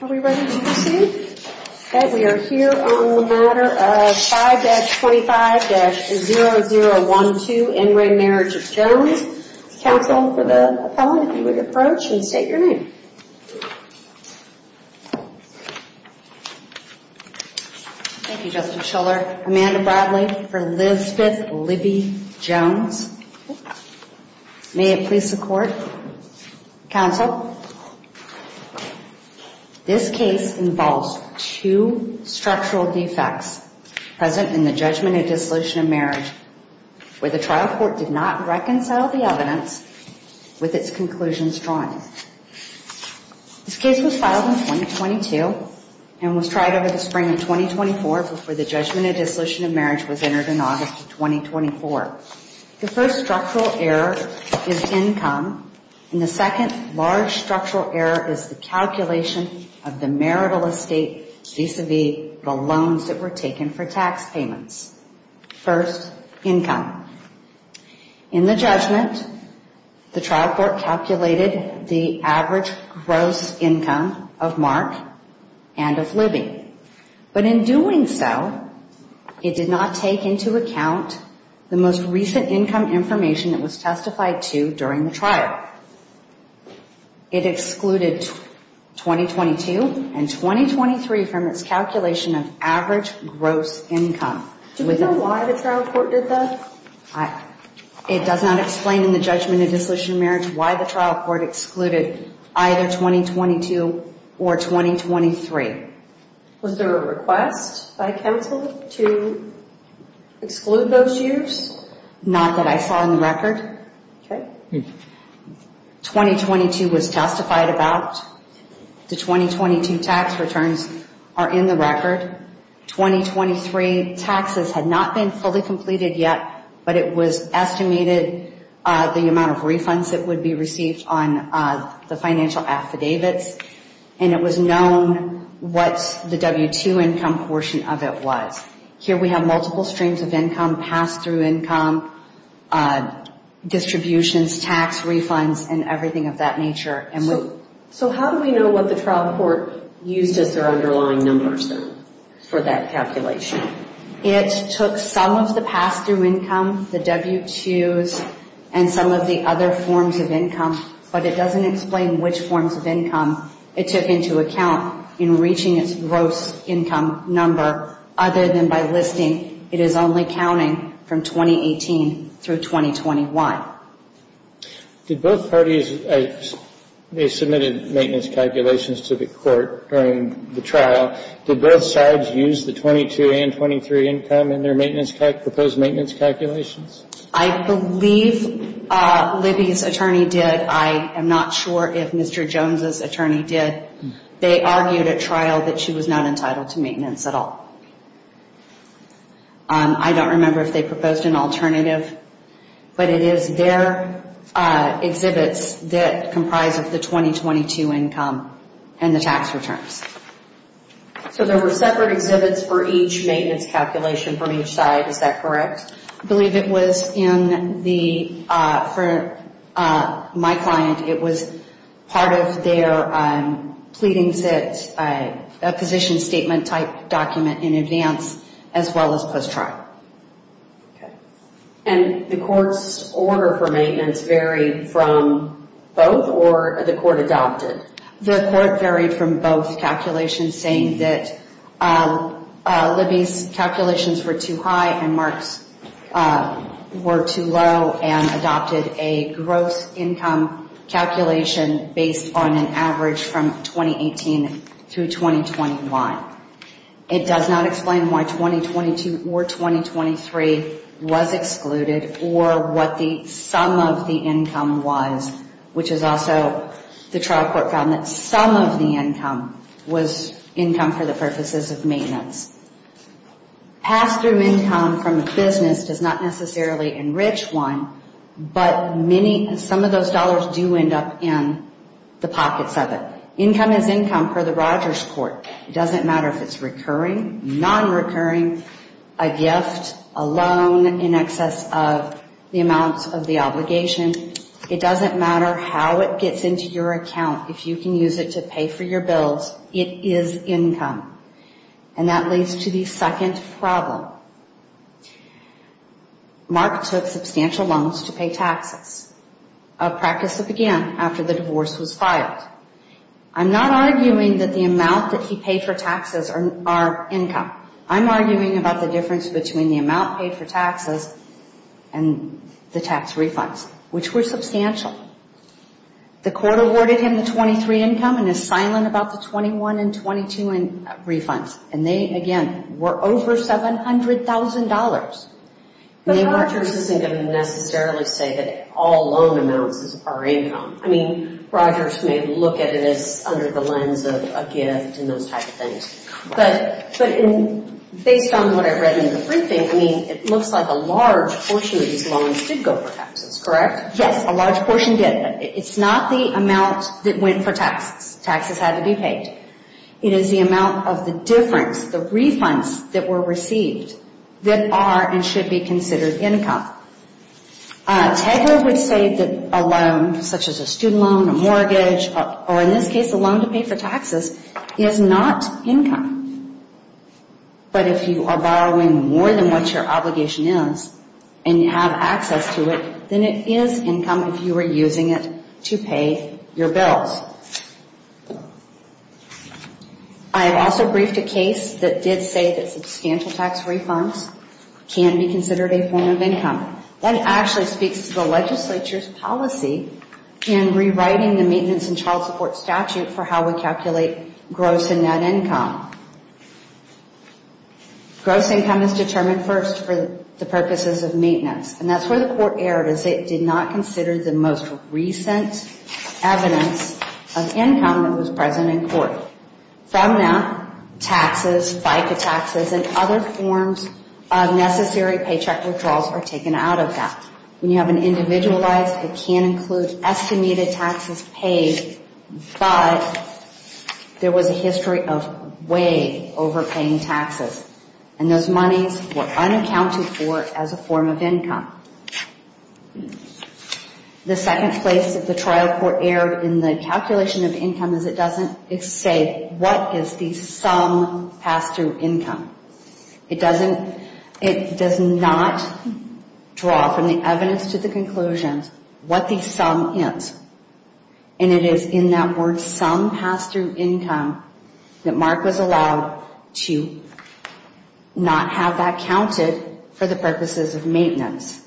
We are here on the matter of 5-25-0012 En Re Marriage of Jones. Counsel for the appellant, if you would approach and state your name. Thank you, Justice Schiller. Amanda Bradley for Elizabeth Libby Jones. May it please the court. Counsel, this case involves two structural defects present in the judgment of dissolution of marriage where the trial court did not reconcile the evidence with its conclusions drawn. This case was filed in 2022 and was tried over the spring of 2024 before the judgment of dissolution of marriage was entered in August of 2024. The first structural error is income and the second large structural error is the calculation of the marital estate vis-à-vis the loans that were taken for tax payments. First, income. In the judgment, the trial court calculated the average gross income of Mark and of Libby. But in doing so, it did not take into account the most recent income information it was testified to during the trial. It excluded 2022 and 2023 from its calculation of average gross income. Do we know why the trial court did that? It does not explain in the judgment of dissolution of marriage why the trial court excluded either 2022 or 2023. Was there a request by counsel to exclude those years? Not that I saw in the record. 2022 was testified about. The 2022 tax returns are in the record. 2023 taxes had not been fully completed yet, but it was estimated the amount of refunds that would be received on the financial affidavits. And it was known what the W-2 income portion of it was. Here we have multiple streams of income, pass-through income, distributions, tax refunds, and everything of that nature. So how do we know what the trial court used as their underlying numbers for that calculation? It took some of the pass-through income, the W-2s, and some of the other forms of income, but it doesn't explain which forms of income it took into account in reaching its gross income number, other than by listing it is only counting from 2018 through 2021. Did both parties, they submitted maintenance calculations to the court during the trial. Did both sides use the 22 and 23 income in their proposed maintenance calculations? I believe Libby's attorney did. I am not sure if Mr. Jones's attorney did. They argued at trial that she was not entitled to maintenance at all. I don't remember if they proposed an alternative, but it is their exhibits that comprise of the 2022 income and the tax returns. So there were separate exhibits for each maintenance calculation from each side, is that correct? I believe it was in the, for my client, it was part of their pleadings at a position statement type document in advance, as well as post-trial. And the court's order for maintenance varied from both, or the court adopted? The court varied from both calculations, saying that Libby's calculations were too high and Mark's were too low, and adopted a gross income calculation based on an average from 2018 through 2021. It does not explain why 2022 or 2023 was excluded or what the sum of the income was, which is also the trial court found that some of the income was income for the purposes of maintenance. Pass-through income from a business does not necessarily enrich one, but many, some of those dollars do end up in the pockets of it. Income is income per the Rogers court. It doesn't matter if it's recurring, non-recurring, a gift, a loan in excess of the amount of the obligation. It doesn't matter how it gets into your account, if you can use it to pay for your bills, it is income. And that leads to the second problem. Mark took substantial loans to pay taxes, a practice that began after the divorce was filed. I'm not arguing that the amount that he paid for taxes are income. I'm arguing about the difference between the amount paid for taxes and the tax refunds, which were substantial. The court awarded him the 23 income and is silent about the 21 and 22 refunds. And they, again, were over $700,000. But Rogers isn't going to necessarily say that all loan amounts are income. I mean, Rogers may look at it as under the lens of a gift and those types of things. But based on what I read in the briefing, I mean, it looks like a large portion of these loans did go for taxes, correct? Yes, a large portion did. It's not the amount that went for taxes. Taxes had to be paid. It is the amount of the difference, the refunds that were received, that are and should be considered income. Tegeler would say that a loan, such as a student loan, a mortgage, or in this case a loan to pay for taxes, is not income. But if you are borrowing more than what your obligation is and you have access to it, then it is income if you are using it to pay your bills. I also briefed a case that did say that substantial tax refunds can be considered a form of income. That actually speaks to the legislature's policy in rewriting the maintenance and child support statute for how we calculate gross and net income. Gross income is determined first for the purposes of maintenance. And that's where the court erred as it did not consider the most recent evidence of income that was present in court. From that, taxes, FICA taxes, and other forms of necessary paycheck withdrawals are taken out of that. When you have an individualized, it can include estimated taxes paid, but there was a history of way overpaying taxes. And those monies were unaccounted for as a form of income. The second place that the trial court erred in the calculation of income is it doesn't say what is the sum passed through income. It doesn't, it does not draw from the evidence to the conclusion what the sum is. And it is in that word sum passed through income that Mark was allowed to not have that counted for the purposes of maintenance.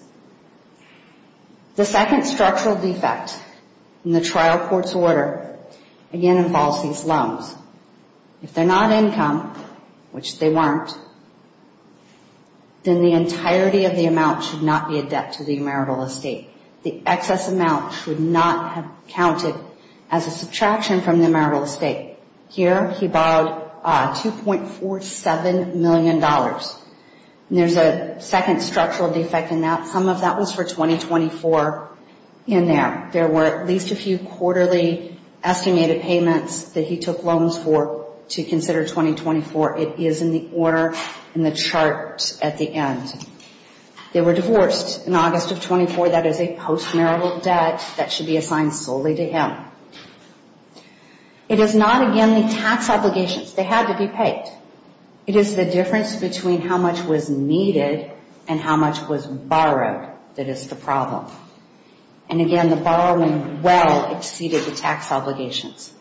The second structural defect in the trial court's order again involves these loans. If they're not income, which they weren't, then the entirety of the amount should not be a debt to the marital estate. The excess amount should not have counted as a subtraction from the marital estate. Here, he borrowed $2.47 million. There's a second structural defect in that. Some of that was for 2024 in there. There were at least a few quarterly estimated payments that he took loans for to consider 2024. It is in the order in the chart at the end. They were divorced in August of 24. That is a post-marital debt that should be assigned solely to him. It is not, again, the tax obligations. They had to be paid. It is the difference between how much was needed and how much was borrowed that is the problem. And again, the borrowing well exceeded the tax obligations.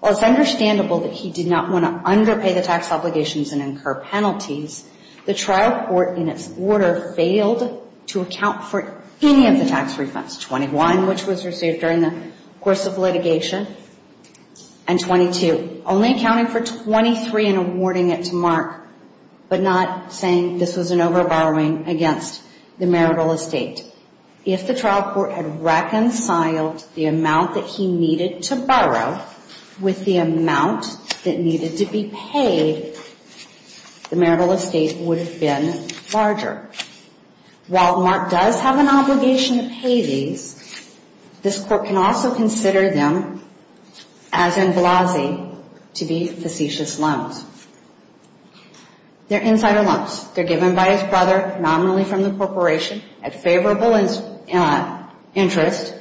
While it's understandable that he did not want to underpay the tax obligations and incur penalties, the trial court in its order failed to account for any of the tax refunds, 21, which was received during the course of litigation, and 22, only accounting for 23 and awarding it to Mark, but not saying this was an over-borrowing against the marital estate. If the trial court had reconciled the amount that he needed to borrow with the amount that needed to be paid, the marital estate would have been larger. While Mark does have an obligation to pay these, this court can also consider them, as in Blasey, to be facetious loans. They're insider loans. They're given by his brother, nominally from the corporation, at favorable interest.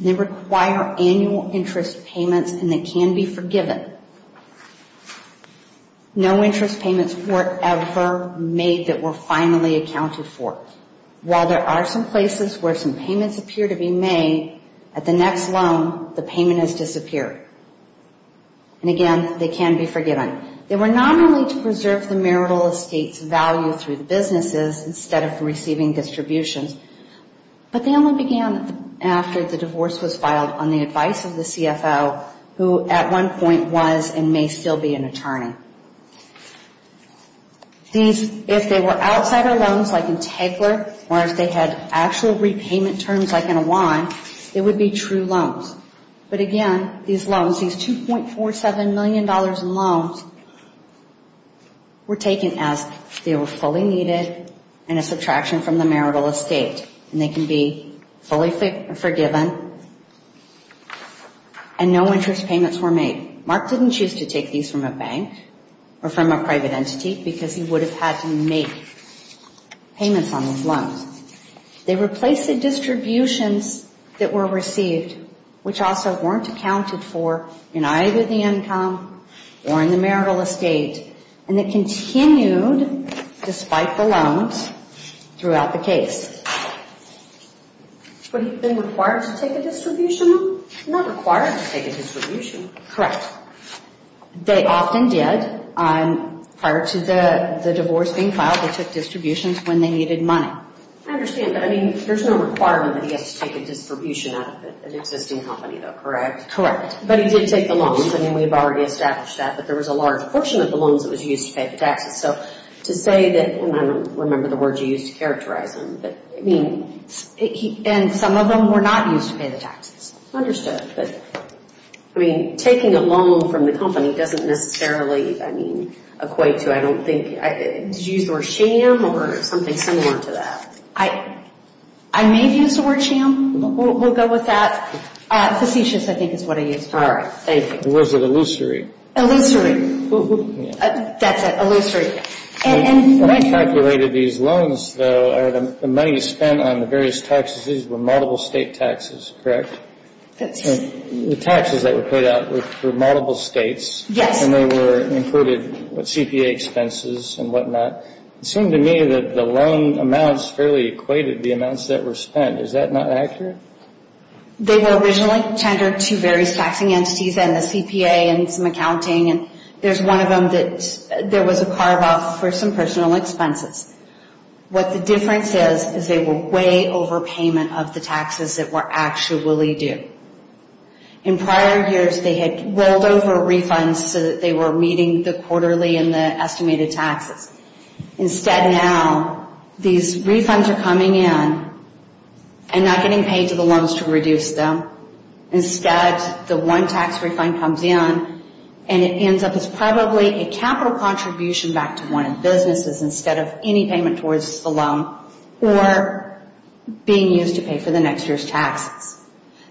They require annual interest payments, and they can be forgiven. No interest payments were ever made that were finally accounted for. While there are some places where some payments appear to be made, at the next loan, the payment has disappeared. And again, they can be forgiven. Anyway, they were nominally to preserve the marital estate's value through the businesses instead of receiving distributions, but they only began after the divorce was filed on the advice of the CFO, who at one point was and may still be an attorney. If they were outsider loans, like in Tegler, or if they had actual repayment terms, like in Awan, they would be true loans. But again, these loans, these $2.47 million in loans, were taken as they were fully needed and a subtraction from the marital estate, and they can be fully forgiven, and no interest payments were made. Mark didn't choose to take these from a bank or from a private entity because he would have had to make payments on those loans. They replaced the distributions that were received, which also weren't accounted for in either the income or in the marital estate, and they continued despite the loans throughout the case. But have they been required to take a distribution? Not required to take a distribution. Correct. They often did. Prior to the divorce being filed, they took distributions when they needed money. I understand, but I mean, there's no requirement that he has to take a distribution out of an existing company, though, correct? Correct. But he did take the loans. I mean, we've already established that, but there was a large portion of the loans that was used to pay the taxes. So to say that, and I don't remember the words you used to characterize them, but I mean, and some of them were not used to pay the taxes. Understood. But, I mean, taking a loan from the company doesn't necessarily, I mean, equate to, I don't think, did you use the word sham or something similar to that? I may have used the word sham. We'll go with that. Facetious, I think, is what I used. All right. Thank you. Or was it illusory? Illusory. That's it, illusory. When you calculated these loans, though, the money spent on the various tax decisions were multiple state taxes, correct? That's right. The taxes that were paid out were for multiple states. Yes. And they were included with CPA expenses and whatnot. It seemed to me that the loan amounts fairly equated the amounts that were spent. Is that not accurate? They were originally tendered to various taxing entities and the CPA and some accounting. And there's one of them that there was a carve-off for some personal expenses. What the difference is, is they were way overpayment of the taxes that were actually due. In prior years, they had rolled over refunds so that they were meeting the quarterly and the estimated taxes. Instead now, these refunds are coming in and not getting paid to the loans to reduce them. Instead, the one tax refund comes in, and it ends up as probably a capital contribution back to one of the businesses instead of any payment towards the loan or being used to pay for the next year's taxes.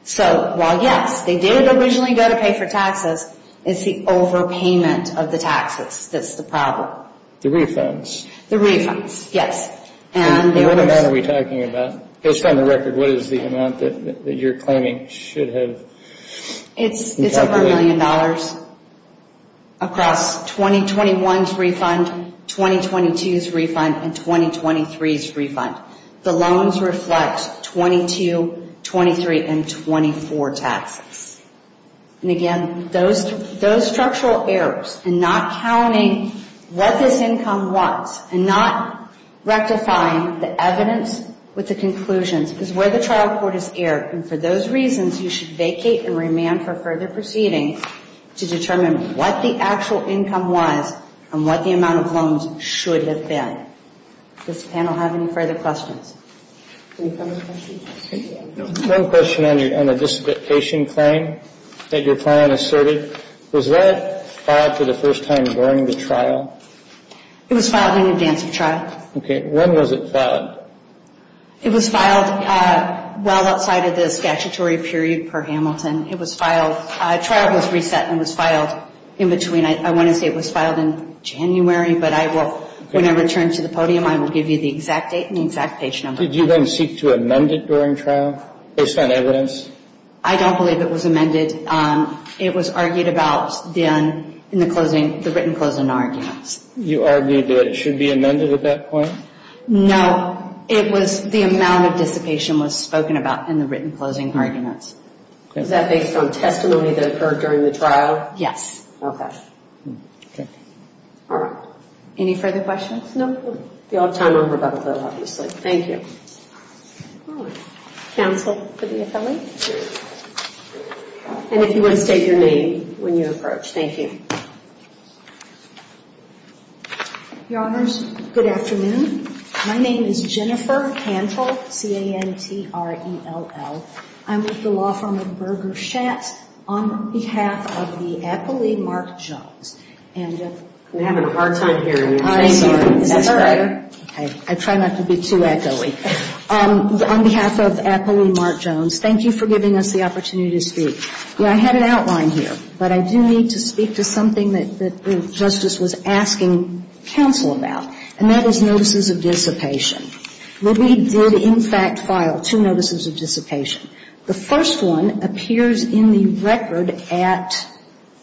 So while, yes, they did originally go to pay for taxes, it's the overpayment of the taxes that's the problem. The refunds. The refunds, yes. And the owners. What amount are we talking about? Based on the record, what is the amount that you're claiming should have been calculated? It's over a million dollars across 2021's refund, 2022's refund, and 2023's refund. The loans reflect 22, 23, and 24 taxes. And again, those structural errors in not counting what this income was and not rectifying the evidence with the conclusions is where the trial court is erred. And for those reasons, you should vacate and remand for further proceedings to determine what the actual income was and what the amount of loans should have been. Does the panel have any further questions? Any further questions? One question on the dissipation claim that your client asserted. Was that filed for the first time during the trial? It was filed in advance of trial. Okay. When was it filed? It was filed well outside of the statutory period per Hamilton. It was filed. Trial was reset and was filed in between. I want to say it was filed in January, but I will, when I return to the podium, I will give you the exact date and the exact page number. Did you then seek to amend it during trial based on evidence? I don't believe it was amended. It was argued about then in the written closing arguments. You argued that it should be amended at that point? No. It was the amount of dissipation was spoken about in the written closing arguments. Is that based on testimony that occurred during the trial? Yes. Okay. Okay. All right. Any further questions? We'll have time for a couple more, obviously. Thank you. Counsel for the attorney? And if you want to state your name when you approach. Thank you. Your Honors, good afternoon. My name is Jennifer Cantrell, C-A-N-T-R-E-L-L. I'm with the law firm of Berger Shatt on behalf of the affilee Mark Jones. We're having a hard time hearing you. I'm sorry. Is that better? Okay. I try not to be too echoey. On behalf of affilee Mark Jones, thank you for giving us the opportunity to speak. I had an outline here, but I do need to speak to something that the Justice was asking counsel about, and that is notices of dissipation. We did, in fact, file two notices of dissipation. The first one appears in the record at,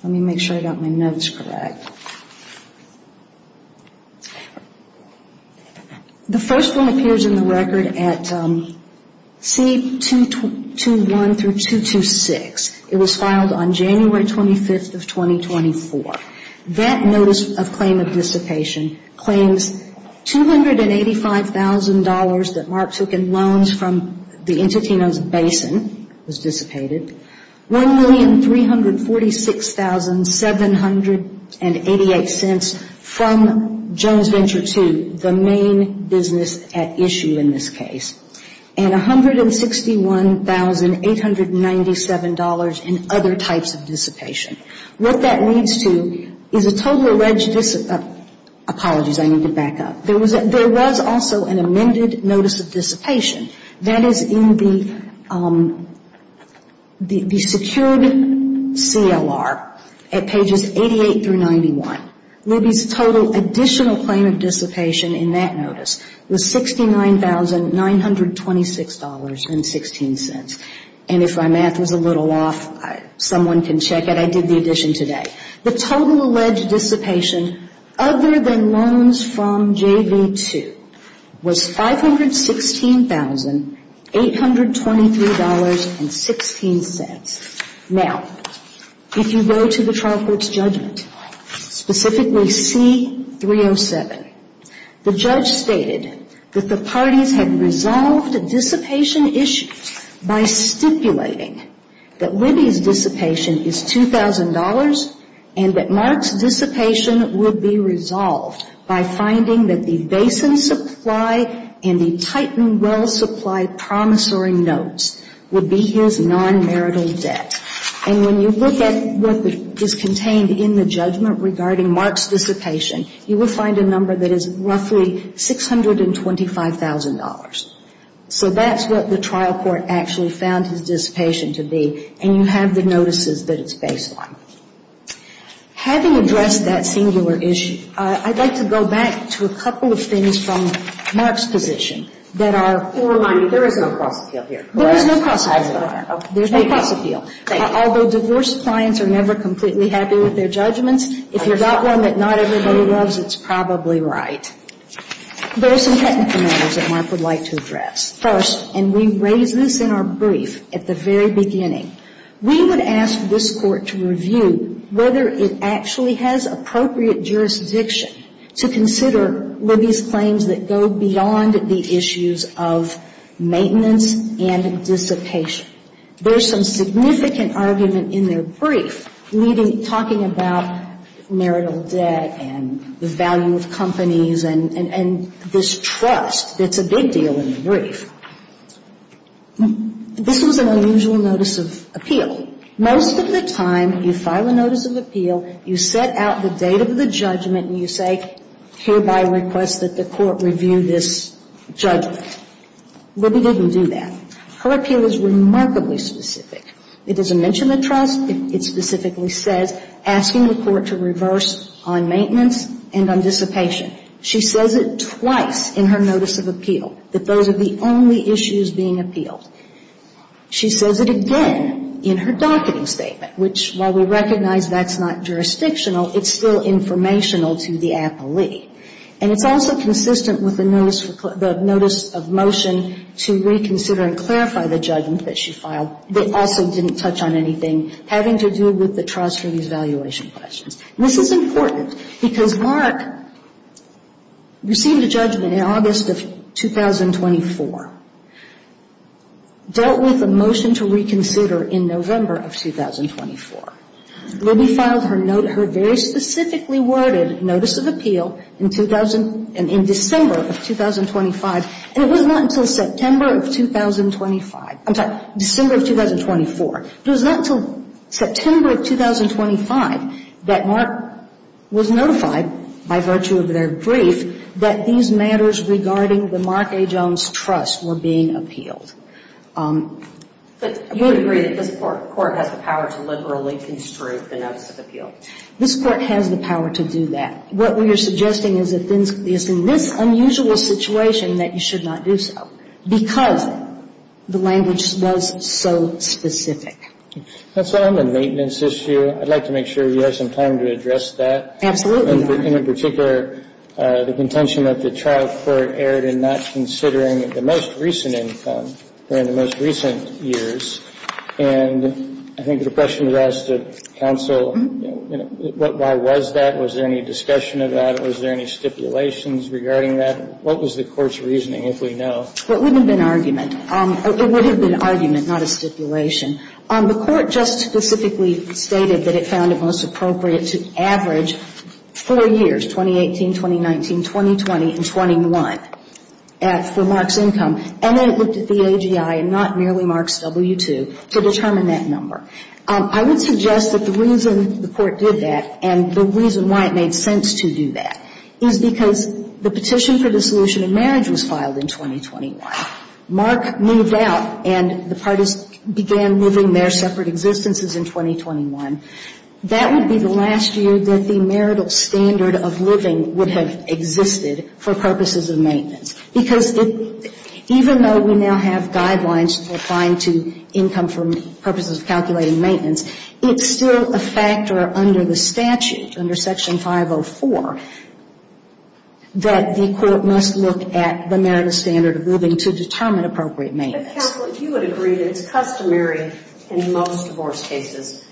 let me make sure I got my notes correct. The first one appears in the record at C-221 through 226. It was filed on January 25th of 2024. That notice of claim of dissipation claims $285,000 that Mark took in loans from the Entitino's Basin was dissipated, $1,346,788 from Jones Venture II, the main business at issue in this case, and $161,897 in other types of dissipation. What that leads to is a total of, apologies, I need to back up. There was also an amended notice of dissipation. That is in the secured CLR at pages 88 through 91. Libby's total additional claim of dissipation in that notice was $69,926.16. And if my math was a little off, someone can check it. I did the addition today. The total alleged dissipation other than loans from JV II was $516,823.16. Now, if you go to the trial court's judgment, specifically C-307, the judge stated that the parties had resolved a dissipation issue by stipulating that Libby's dissipation is $2,000 and that Mark's dissipation would be resolved by finding that the basin supply and the Titan well supply promissory notes would be his non-marital debt. And when you look at what is contained in the judgment regarding Mark's dissipation, you will find a number that is roughly $625,000. So that's what the trial court actually found his dissipation to be. And you have the notices that it's based on. Having addressed that singular issue, I'd like to go back to a couple of things from Mark's position that are. There is no cross-appeal here. There is no cross-appeal. Although divorce clients are never completely happy with their judgments, if you've got one that not everybody loves, it's probably right. There are some technical matters that Mark would like to address. First, and we raised this in our brief at the very beginning, we would ask this Court to review whether it actually has appropriate jurisdiction to consider Libby's claims that go beyond the issues of maintenance and dissipation. There's some significant argument in their brief talking about marital debt and the value of companies and this trust that's a big deal in the brief. This was an unusual notice of appeal. Most of the time, you file a notice of appeal, you set out the date of the judgment, and you say, hereby request that the Court review this judgment. Libby didn't do that. Her appeal is remarkably specific. It is a mention of trust. It specifically says, asking the Court to reverse on maintenance and on dissipation. She says it twice in her notice of appeal, that those are the only issues being appealed. She says it again in her docketing statement, which, while we recognize that's not jurisdictional, it's still informational to the appellee. And it's also consistent with the notice of motion to reconsider and clarify the judgment that she filed that also didn't touch on anything having to do with the trust or these valuation questions. And this is important because Maura received a judgment in August of 2024, dealt with the motion to reconsider in November of 2024. Libby filed her very specifically worded notice of appeal in December of 2025, and it was not until September of 2025. I'm sorry, December of 2024. It was not until September of 2025 that Mark was notified, by virtue of their brief, that these matters regarding the Mark A. Jones trust were being appealed. But you would agree that this Court has the power to liberally construe the notice of appeal? This Court has the power to do that. What we are suggesting is that it's in this unusual situation that you should not do so, because the language was so specific. That's all on the maintenance issue. I'd like to make sure you have some time to address that. Absolutely. In particular, the contention that the trial court erred in not considering the most recent income during the most recent years. And I think the question was asked of counsel, why was that? Was there any discussion about it? Was there any stipulations regarding that? What was the Court's reasoning, if we know? It wouldn't have been argument. It would have been argument, not a stipulation. The Court just specifically stated that it found it most appropriate to average four years, 2018, 2019, 2020, and 21, for Mark's income. And then it looked at the AGI and not merely Mark's W-2 to determine that number. I would suggest that the reason the Court did that and the reason why it made sense to do that is because the petition for dissolution in marriage was filed in 2021. Mark moved out and the parties began living their separate existences in 2021. That would be the last year that the marital standard of living would have existed for purposes of maintenance. Because even though we now have guidelines for applying to income for purposes of calculating maintenance, it's still a factor under the statute, under Section 504, that the Court must look at the marital standard of living to determine appropriate maintenance. But, counsel, you would agree that it's customary in most divorce cases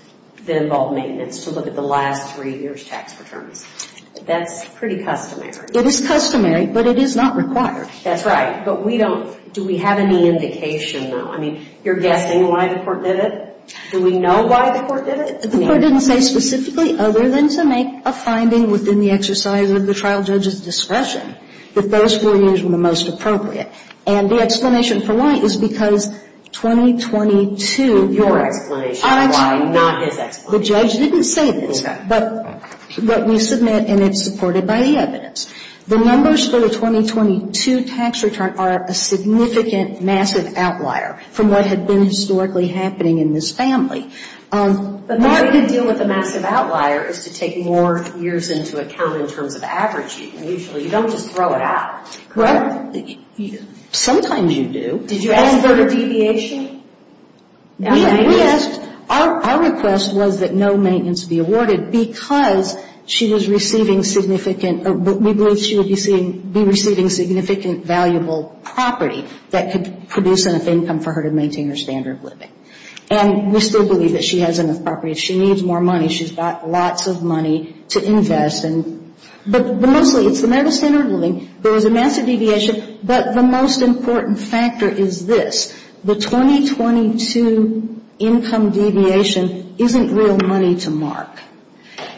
that involve maintenance to look at the last three years' tax returns. That's pretty customary. It is customary, but it is not required. That's right. But we don't, do we have any indication, though? I mean, you're guessing why the Court did it? Do we know why the Court did it? The Court didn't say specifically, other than to make a finding within the exercise of the trial judge's discretion, that those four years were the most appropriate. And the explanation for why is because 2022. Your explanation why, not his explanation. The judge didn't say this. But we submit and it's supported by the evidence. The numbers for the 2022 tax return are a significant, massive outlier from what had been historically happening in this family. The way we can deal with a massive outlier is to take more years into account in terms of averaging, usually. You don't just throw it out. Correct. Sometimes you do. Did you ask for a deviation? We asked. Our request was that no maintenance be awarded because she was receiving significant, we believe she would be receiving significant valuable property that could produce enough income for her to maintain her standard of living. And we still believe that she has enough property. If she needs more money, she's got lots of money to invest. But mostly, it's the matter of standard of living. There was a massive deviation, but the most important factor is this. The 2022 income deviation isn't real money to Mark.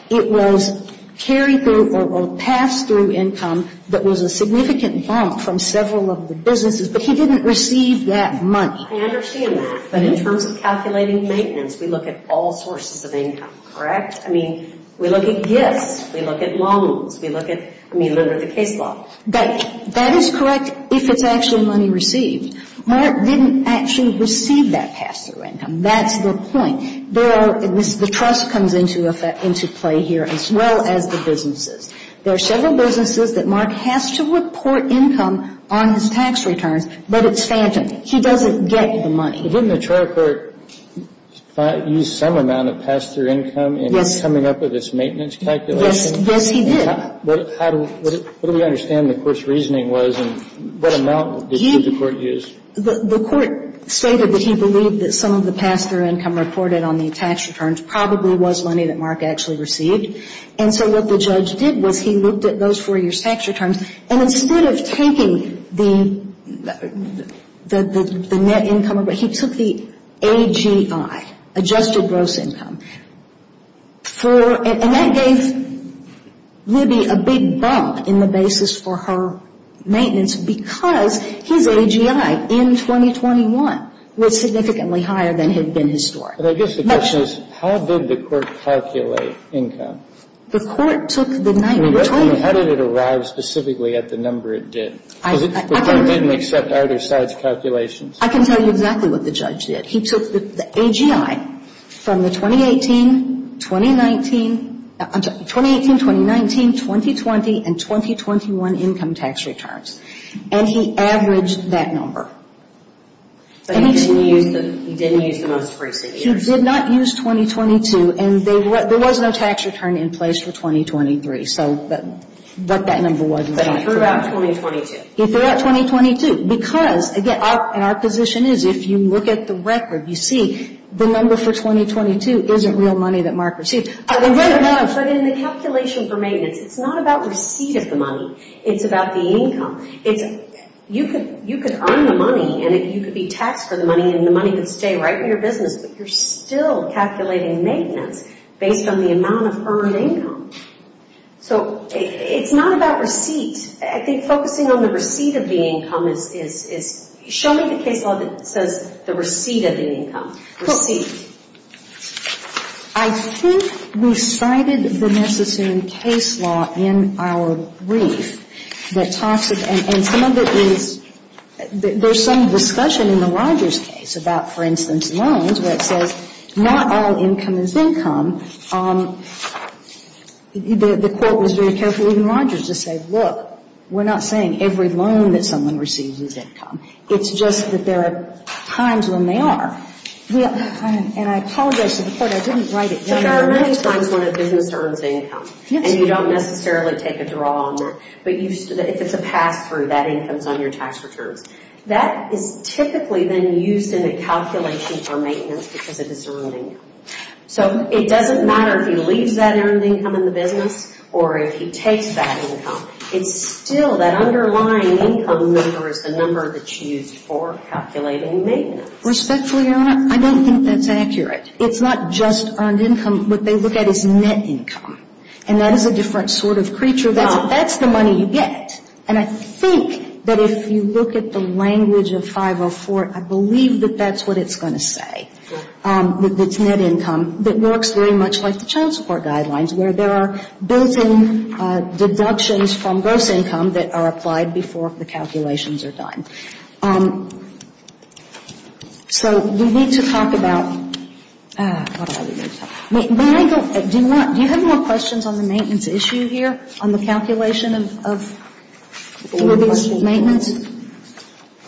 It was carry-through or pass-through income that was a significant bump from several of the businesses. But he didn't receive that money. I understand that. But in terms of calculating maintenance, we look at all sources of income, correct? I mean, we look at gifts. We look at loans. We look at, I mean, under the case law. That is correct if it's actually money received. Mark didn't actually receive that pass-through income. That's the point. There are the trust comes into play here as well as the businesses. There are several businesses that Mark has to report income on his tax returns, but it's phantom. He doesn't get the money. Didn't the trial court use some amount of pass-through income in coming up with this maintenance calculation? Yes, he did. How do we understand the court's reasoning was and what amount did the court use? The court stated that he believed that some of the pass-through income reported on the tax returns probably was money that Mark actually received. And so what the judge did was he looked at those four years' tax returns, and instead of taking the net income, he took the AGI, adjusted gross income. And that gave Libby a big bump in the basis for her maintenance because his AGI in 2021 was significantly higher than had been historic. But I guess the question is, how did the court calculate income? The court took the net. How did it arrive specifically at the number it did? Because the court didn't accept either side's calculations. I can tell you exactly what the judge did. He took the AGI from the 2018, 2019, I'm sorry, 2018, 2019, 2020, and 2021 income tax returns, and he averaged that number. But he didn't use the most recent years. He did not use 2022, and there was no tax return in place for 2023, but that number wasn't there. But he threw out 2022. Because, again, our position is if you look at the record, you see the number for 2022 isn't real money that Mark received. But in the calculation for maintenance, it's not about receipt of the money. It's about the income. You could earn the money, and you could be taxed for the money, and the money could stay right in your business, but you're still calculating maintenance based on the amount of earned income. So it's not about receipt. I think focusing on the receipt of the income is – show me the case law that says the receipt of the income. Receipt. I think we cited the Messissoon case law in our brief that talks – and some of it is – there's some discussion in the Rogers case about, for instance, loans, where it says not all income is income. The court was very careful, even Rogers, to say, look, we're not saying every loan that someone receives is income. It's just that there are times when they are. And I apologize to the court. I didn't write it down. But there are many times when a business earns income, and you don't necessarily take a draw on that. But if it's a pass-through, that income is on your tax returns. That is typically then used in a calculation for maintenance because of this earning. So it doesn't matter if he leaves that earned income in the business or if he takes that income. It's still that underlying income number is the number that's used for calculating maintenance. Respectfully, Your Honor, I don't think that's accurate. It's not just earned income. What they look at is net income. And that is a different sort of creature. That's the money you get. And I think that if you look at the language of 504, I believe that that's what it's going to say. It's net income. It works very much like the child support guidelines, where there are built-in deductions from gross income that are applied before the calculations are done. So we need to talk about — do you have more questions on the maintenance issue here, on the calculation of maintenance?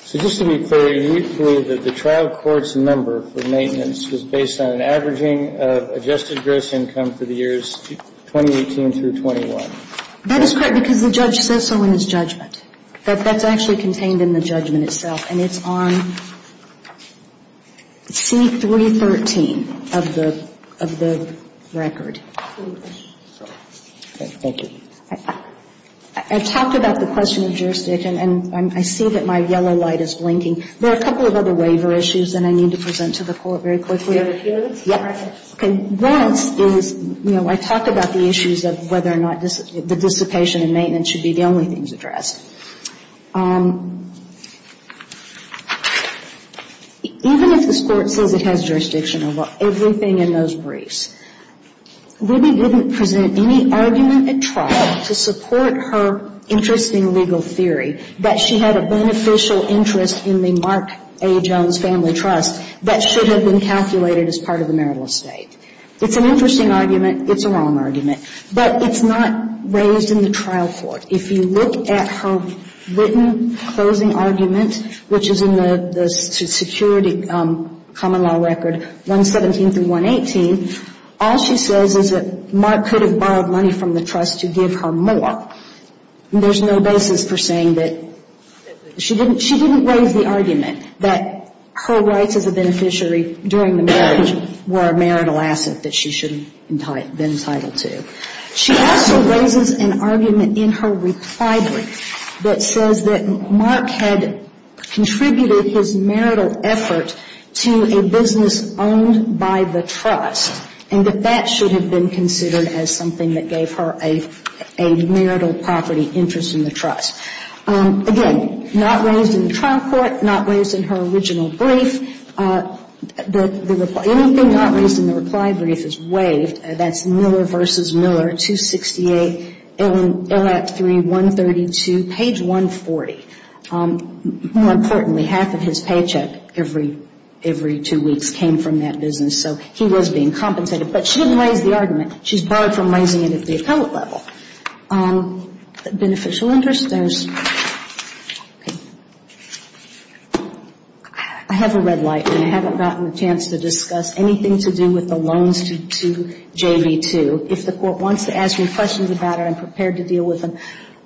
So just to be clear, you believe that the trial court's number for maintenance was based on an averaging of adjusted gross income for the years 2018 through 21? That is correct because the judge says so in his judgment. But that's actually contained in the judgment itself. And it's on C-313 of the record. Okay. Thank you. I talked about the question of jurisdiction, and I see that my yellow light is blinking. There are a couple of other waiver issues that I need to present to the court very quickly. Do you have a few? Yeah. Once is, you know, I talked about the issues of whether or not the dissipation and maintenance should be the only things addressed. Even if this court says it has jurisdiction over everything in those briefs, Ruby wouldn't present any argument at trial to support her interesting legal theory that she had a beneficial interest in the Mark A. Jones Family Trust that should have been calculated as part of the marital estate. It's an interesting argument. It's a wrong argument. But it's not raised in the trial court. If you look at her written closing argument, which is in the security common law record 117 through 118, all she says is that Mark could have borrowed money from the trust to give her more. There's no basis for saying that she didn't raise the argument that her rights as a beneficiary during the marriage were a marital asset that she should have been entitled to. She also raises an argument in her reply brief that says that Mark had contributed his marital effort to a business owned by the trust, and that that should have been considered as something that gave her a marital property interest in the trust. Again, not raised in the trial court, not raised in her original brief. The only thing not raised in the reply brief is waived. That's Miller v. Miller, 268, L.A. Act 3, 132, page 140. More importantly, half of his paycheck every two weeks came from that business. So he was being compensated. But she didn't raise the argument. She's borrowed from raising it at the appellate level. Beneficial interest. I have a red light, and I haven't gotten a chance to discuss anything to do with the loans to JV2. If the court wants to ask me questions about it, I'm prepared to deal with them.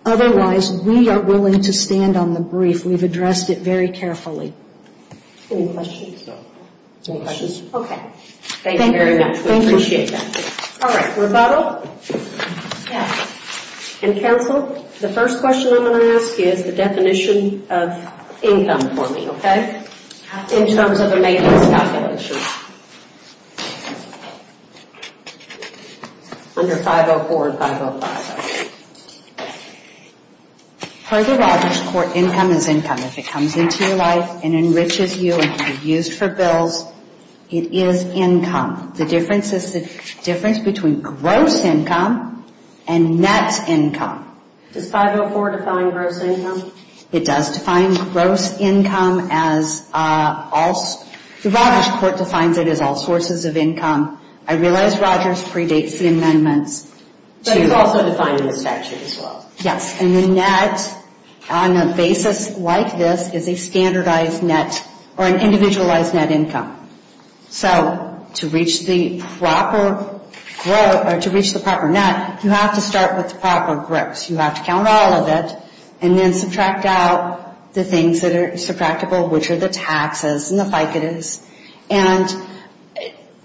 Otherwise, we are willing to stand on the brief. We've addressed it very carefully. Any questions? No questions. Okay. Thank you very much. Thank you. We appreciate that. All right. Rebuttal? Yes. And counsel, the first question I'm going to ask is the definition of income for me, okay? In terms of a made-list calculation. Under 504 and 505. Per the Rogers Court, income is income. If it comes into your life and enriches you and can be used for bills, it is income. The difference is the difference between gross income and net income. Does 504 define gross income? It does define gross income. The Rogers Court defines it as all sources of income. I realize Rogers predates the amendments. But it's also defined in the statute as well. Yes. And the net, on a basis like this, is a standardized net or an individualized net income. So to reach the proper net, you have to start with the proper gross. You have to count all of it and then subtract out the things that are subtractible, which are the taxes and the ficatives and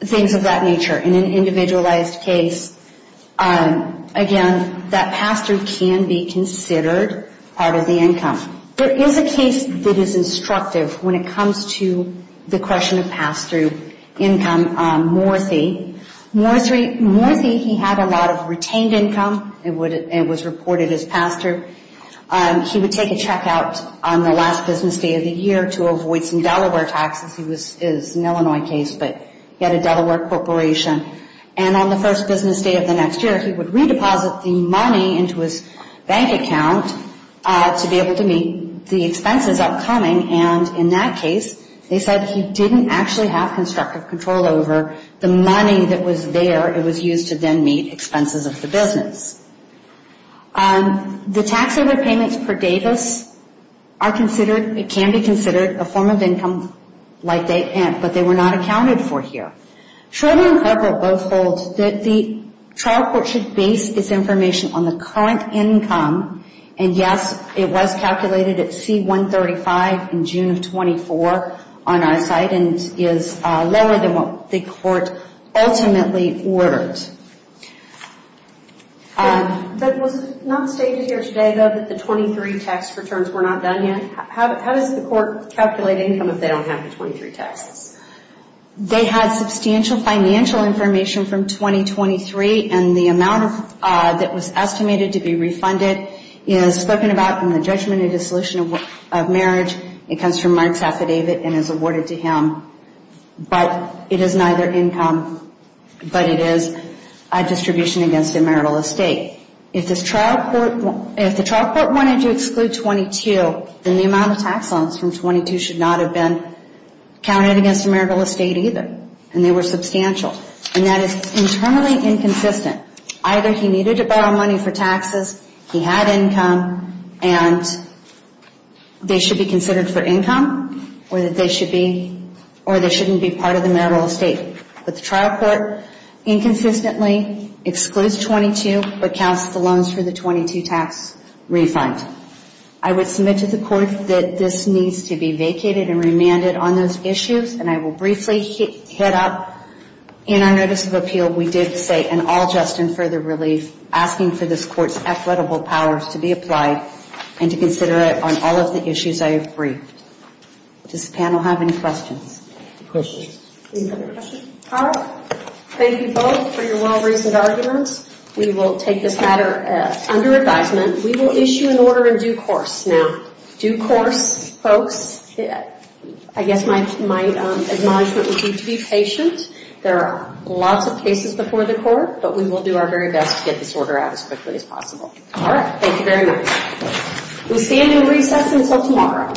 things of that nature. In an individualized case, again, that pass-through can be considered part of the income. There is a case that is instructive when it comes to the question of pass-through income. Morthy. Morthy, he had a lot of retained income. It was reported as pass-through. He would take a check out on the last business day of the year to avoid some Delaware taxes. It was an Illinois case, but he had a Delaware corporation. And on the first business day of the next year, he would redeposit the money into his bank account to be able to meet the expenses upcoming. And in that case, they said he didn't actually have constructive control over the money that was there. It was used to then meet expenses of the business. The tax overpayments per davis are considered, it can be considered a form of income like they can't, but they were not accounted for here. Children and Corporate both hold that the trial court should base its information on the current income. And yes, it was calculated at C-135 in June of 24 on our site and is lower than what the court ultimately ordered. But was it not stated here today, though, that the 23 tax returns were not done yet? How does the court calculate income if they don't have the 23 taxes? They had substantial financial information from 2023, and the amount that was estimated to be refunded is spoken about in the judgment of dissolution of marriage. It comes from Mark's affidavit and is awarded to him. But it is neither income, but it is a distribution against a marital estate. If the trial court wanted to exclude 22, then the amount of tax loans from 22 should not have been counted against a marital estate either. And they were substantial. And that is internally inconsistent. Either he needed to borrow money for taxes, he had income, and they should be considered for income or they shouldn't be part of the marital estate. But the trial court inconsistently excludes 22 but counts the loans for the 22 tax refund. I would submit to the court that this needs to be vacated and remanded on those issues, and I will briefly hit up. In our notice of appeal, we did say, and all just in further relief, asking for this court's affordable powers to be applied and to consider it on all of the issues I have briefed. Does the panel have any questions? Questions. Any other questions? All right. Thank you both for your well-reasoned arguments. We will take this matter under advisement. We will issue an order in due course. Now, due course, folks, I guess my admonishment would be to be patient. There are lots of cases before the court, but we will do our very best to get this order out as quickly as possible. All right. Thank you very much. We stand in recess until tomorrow.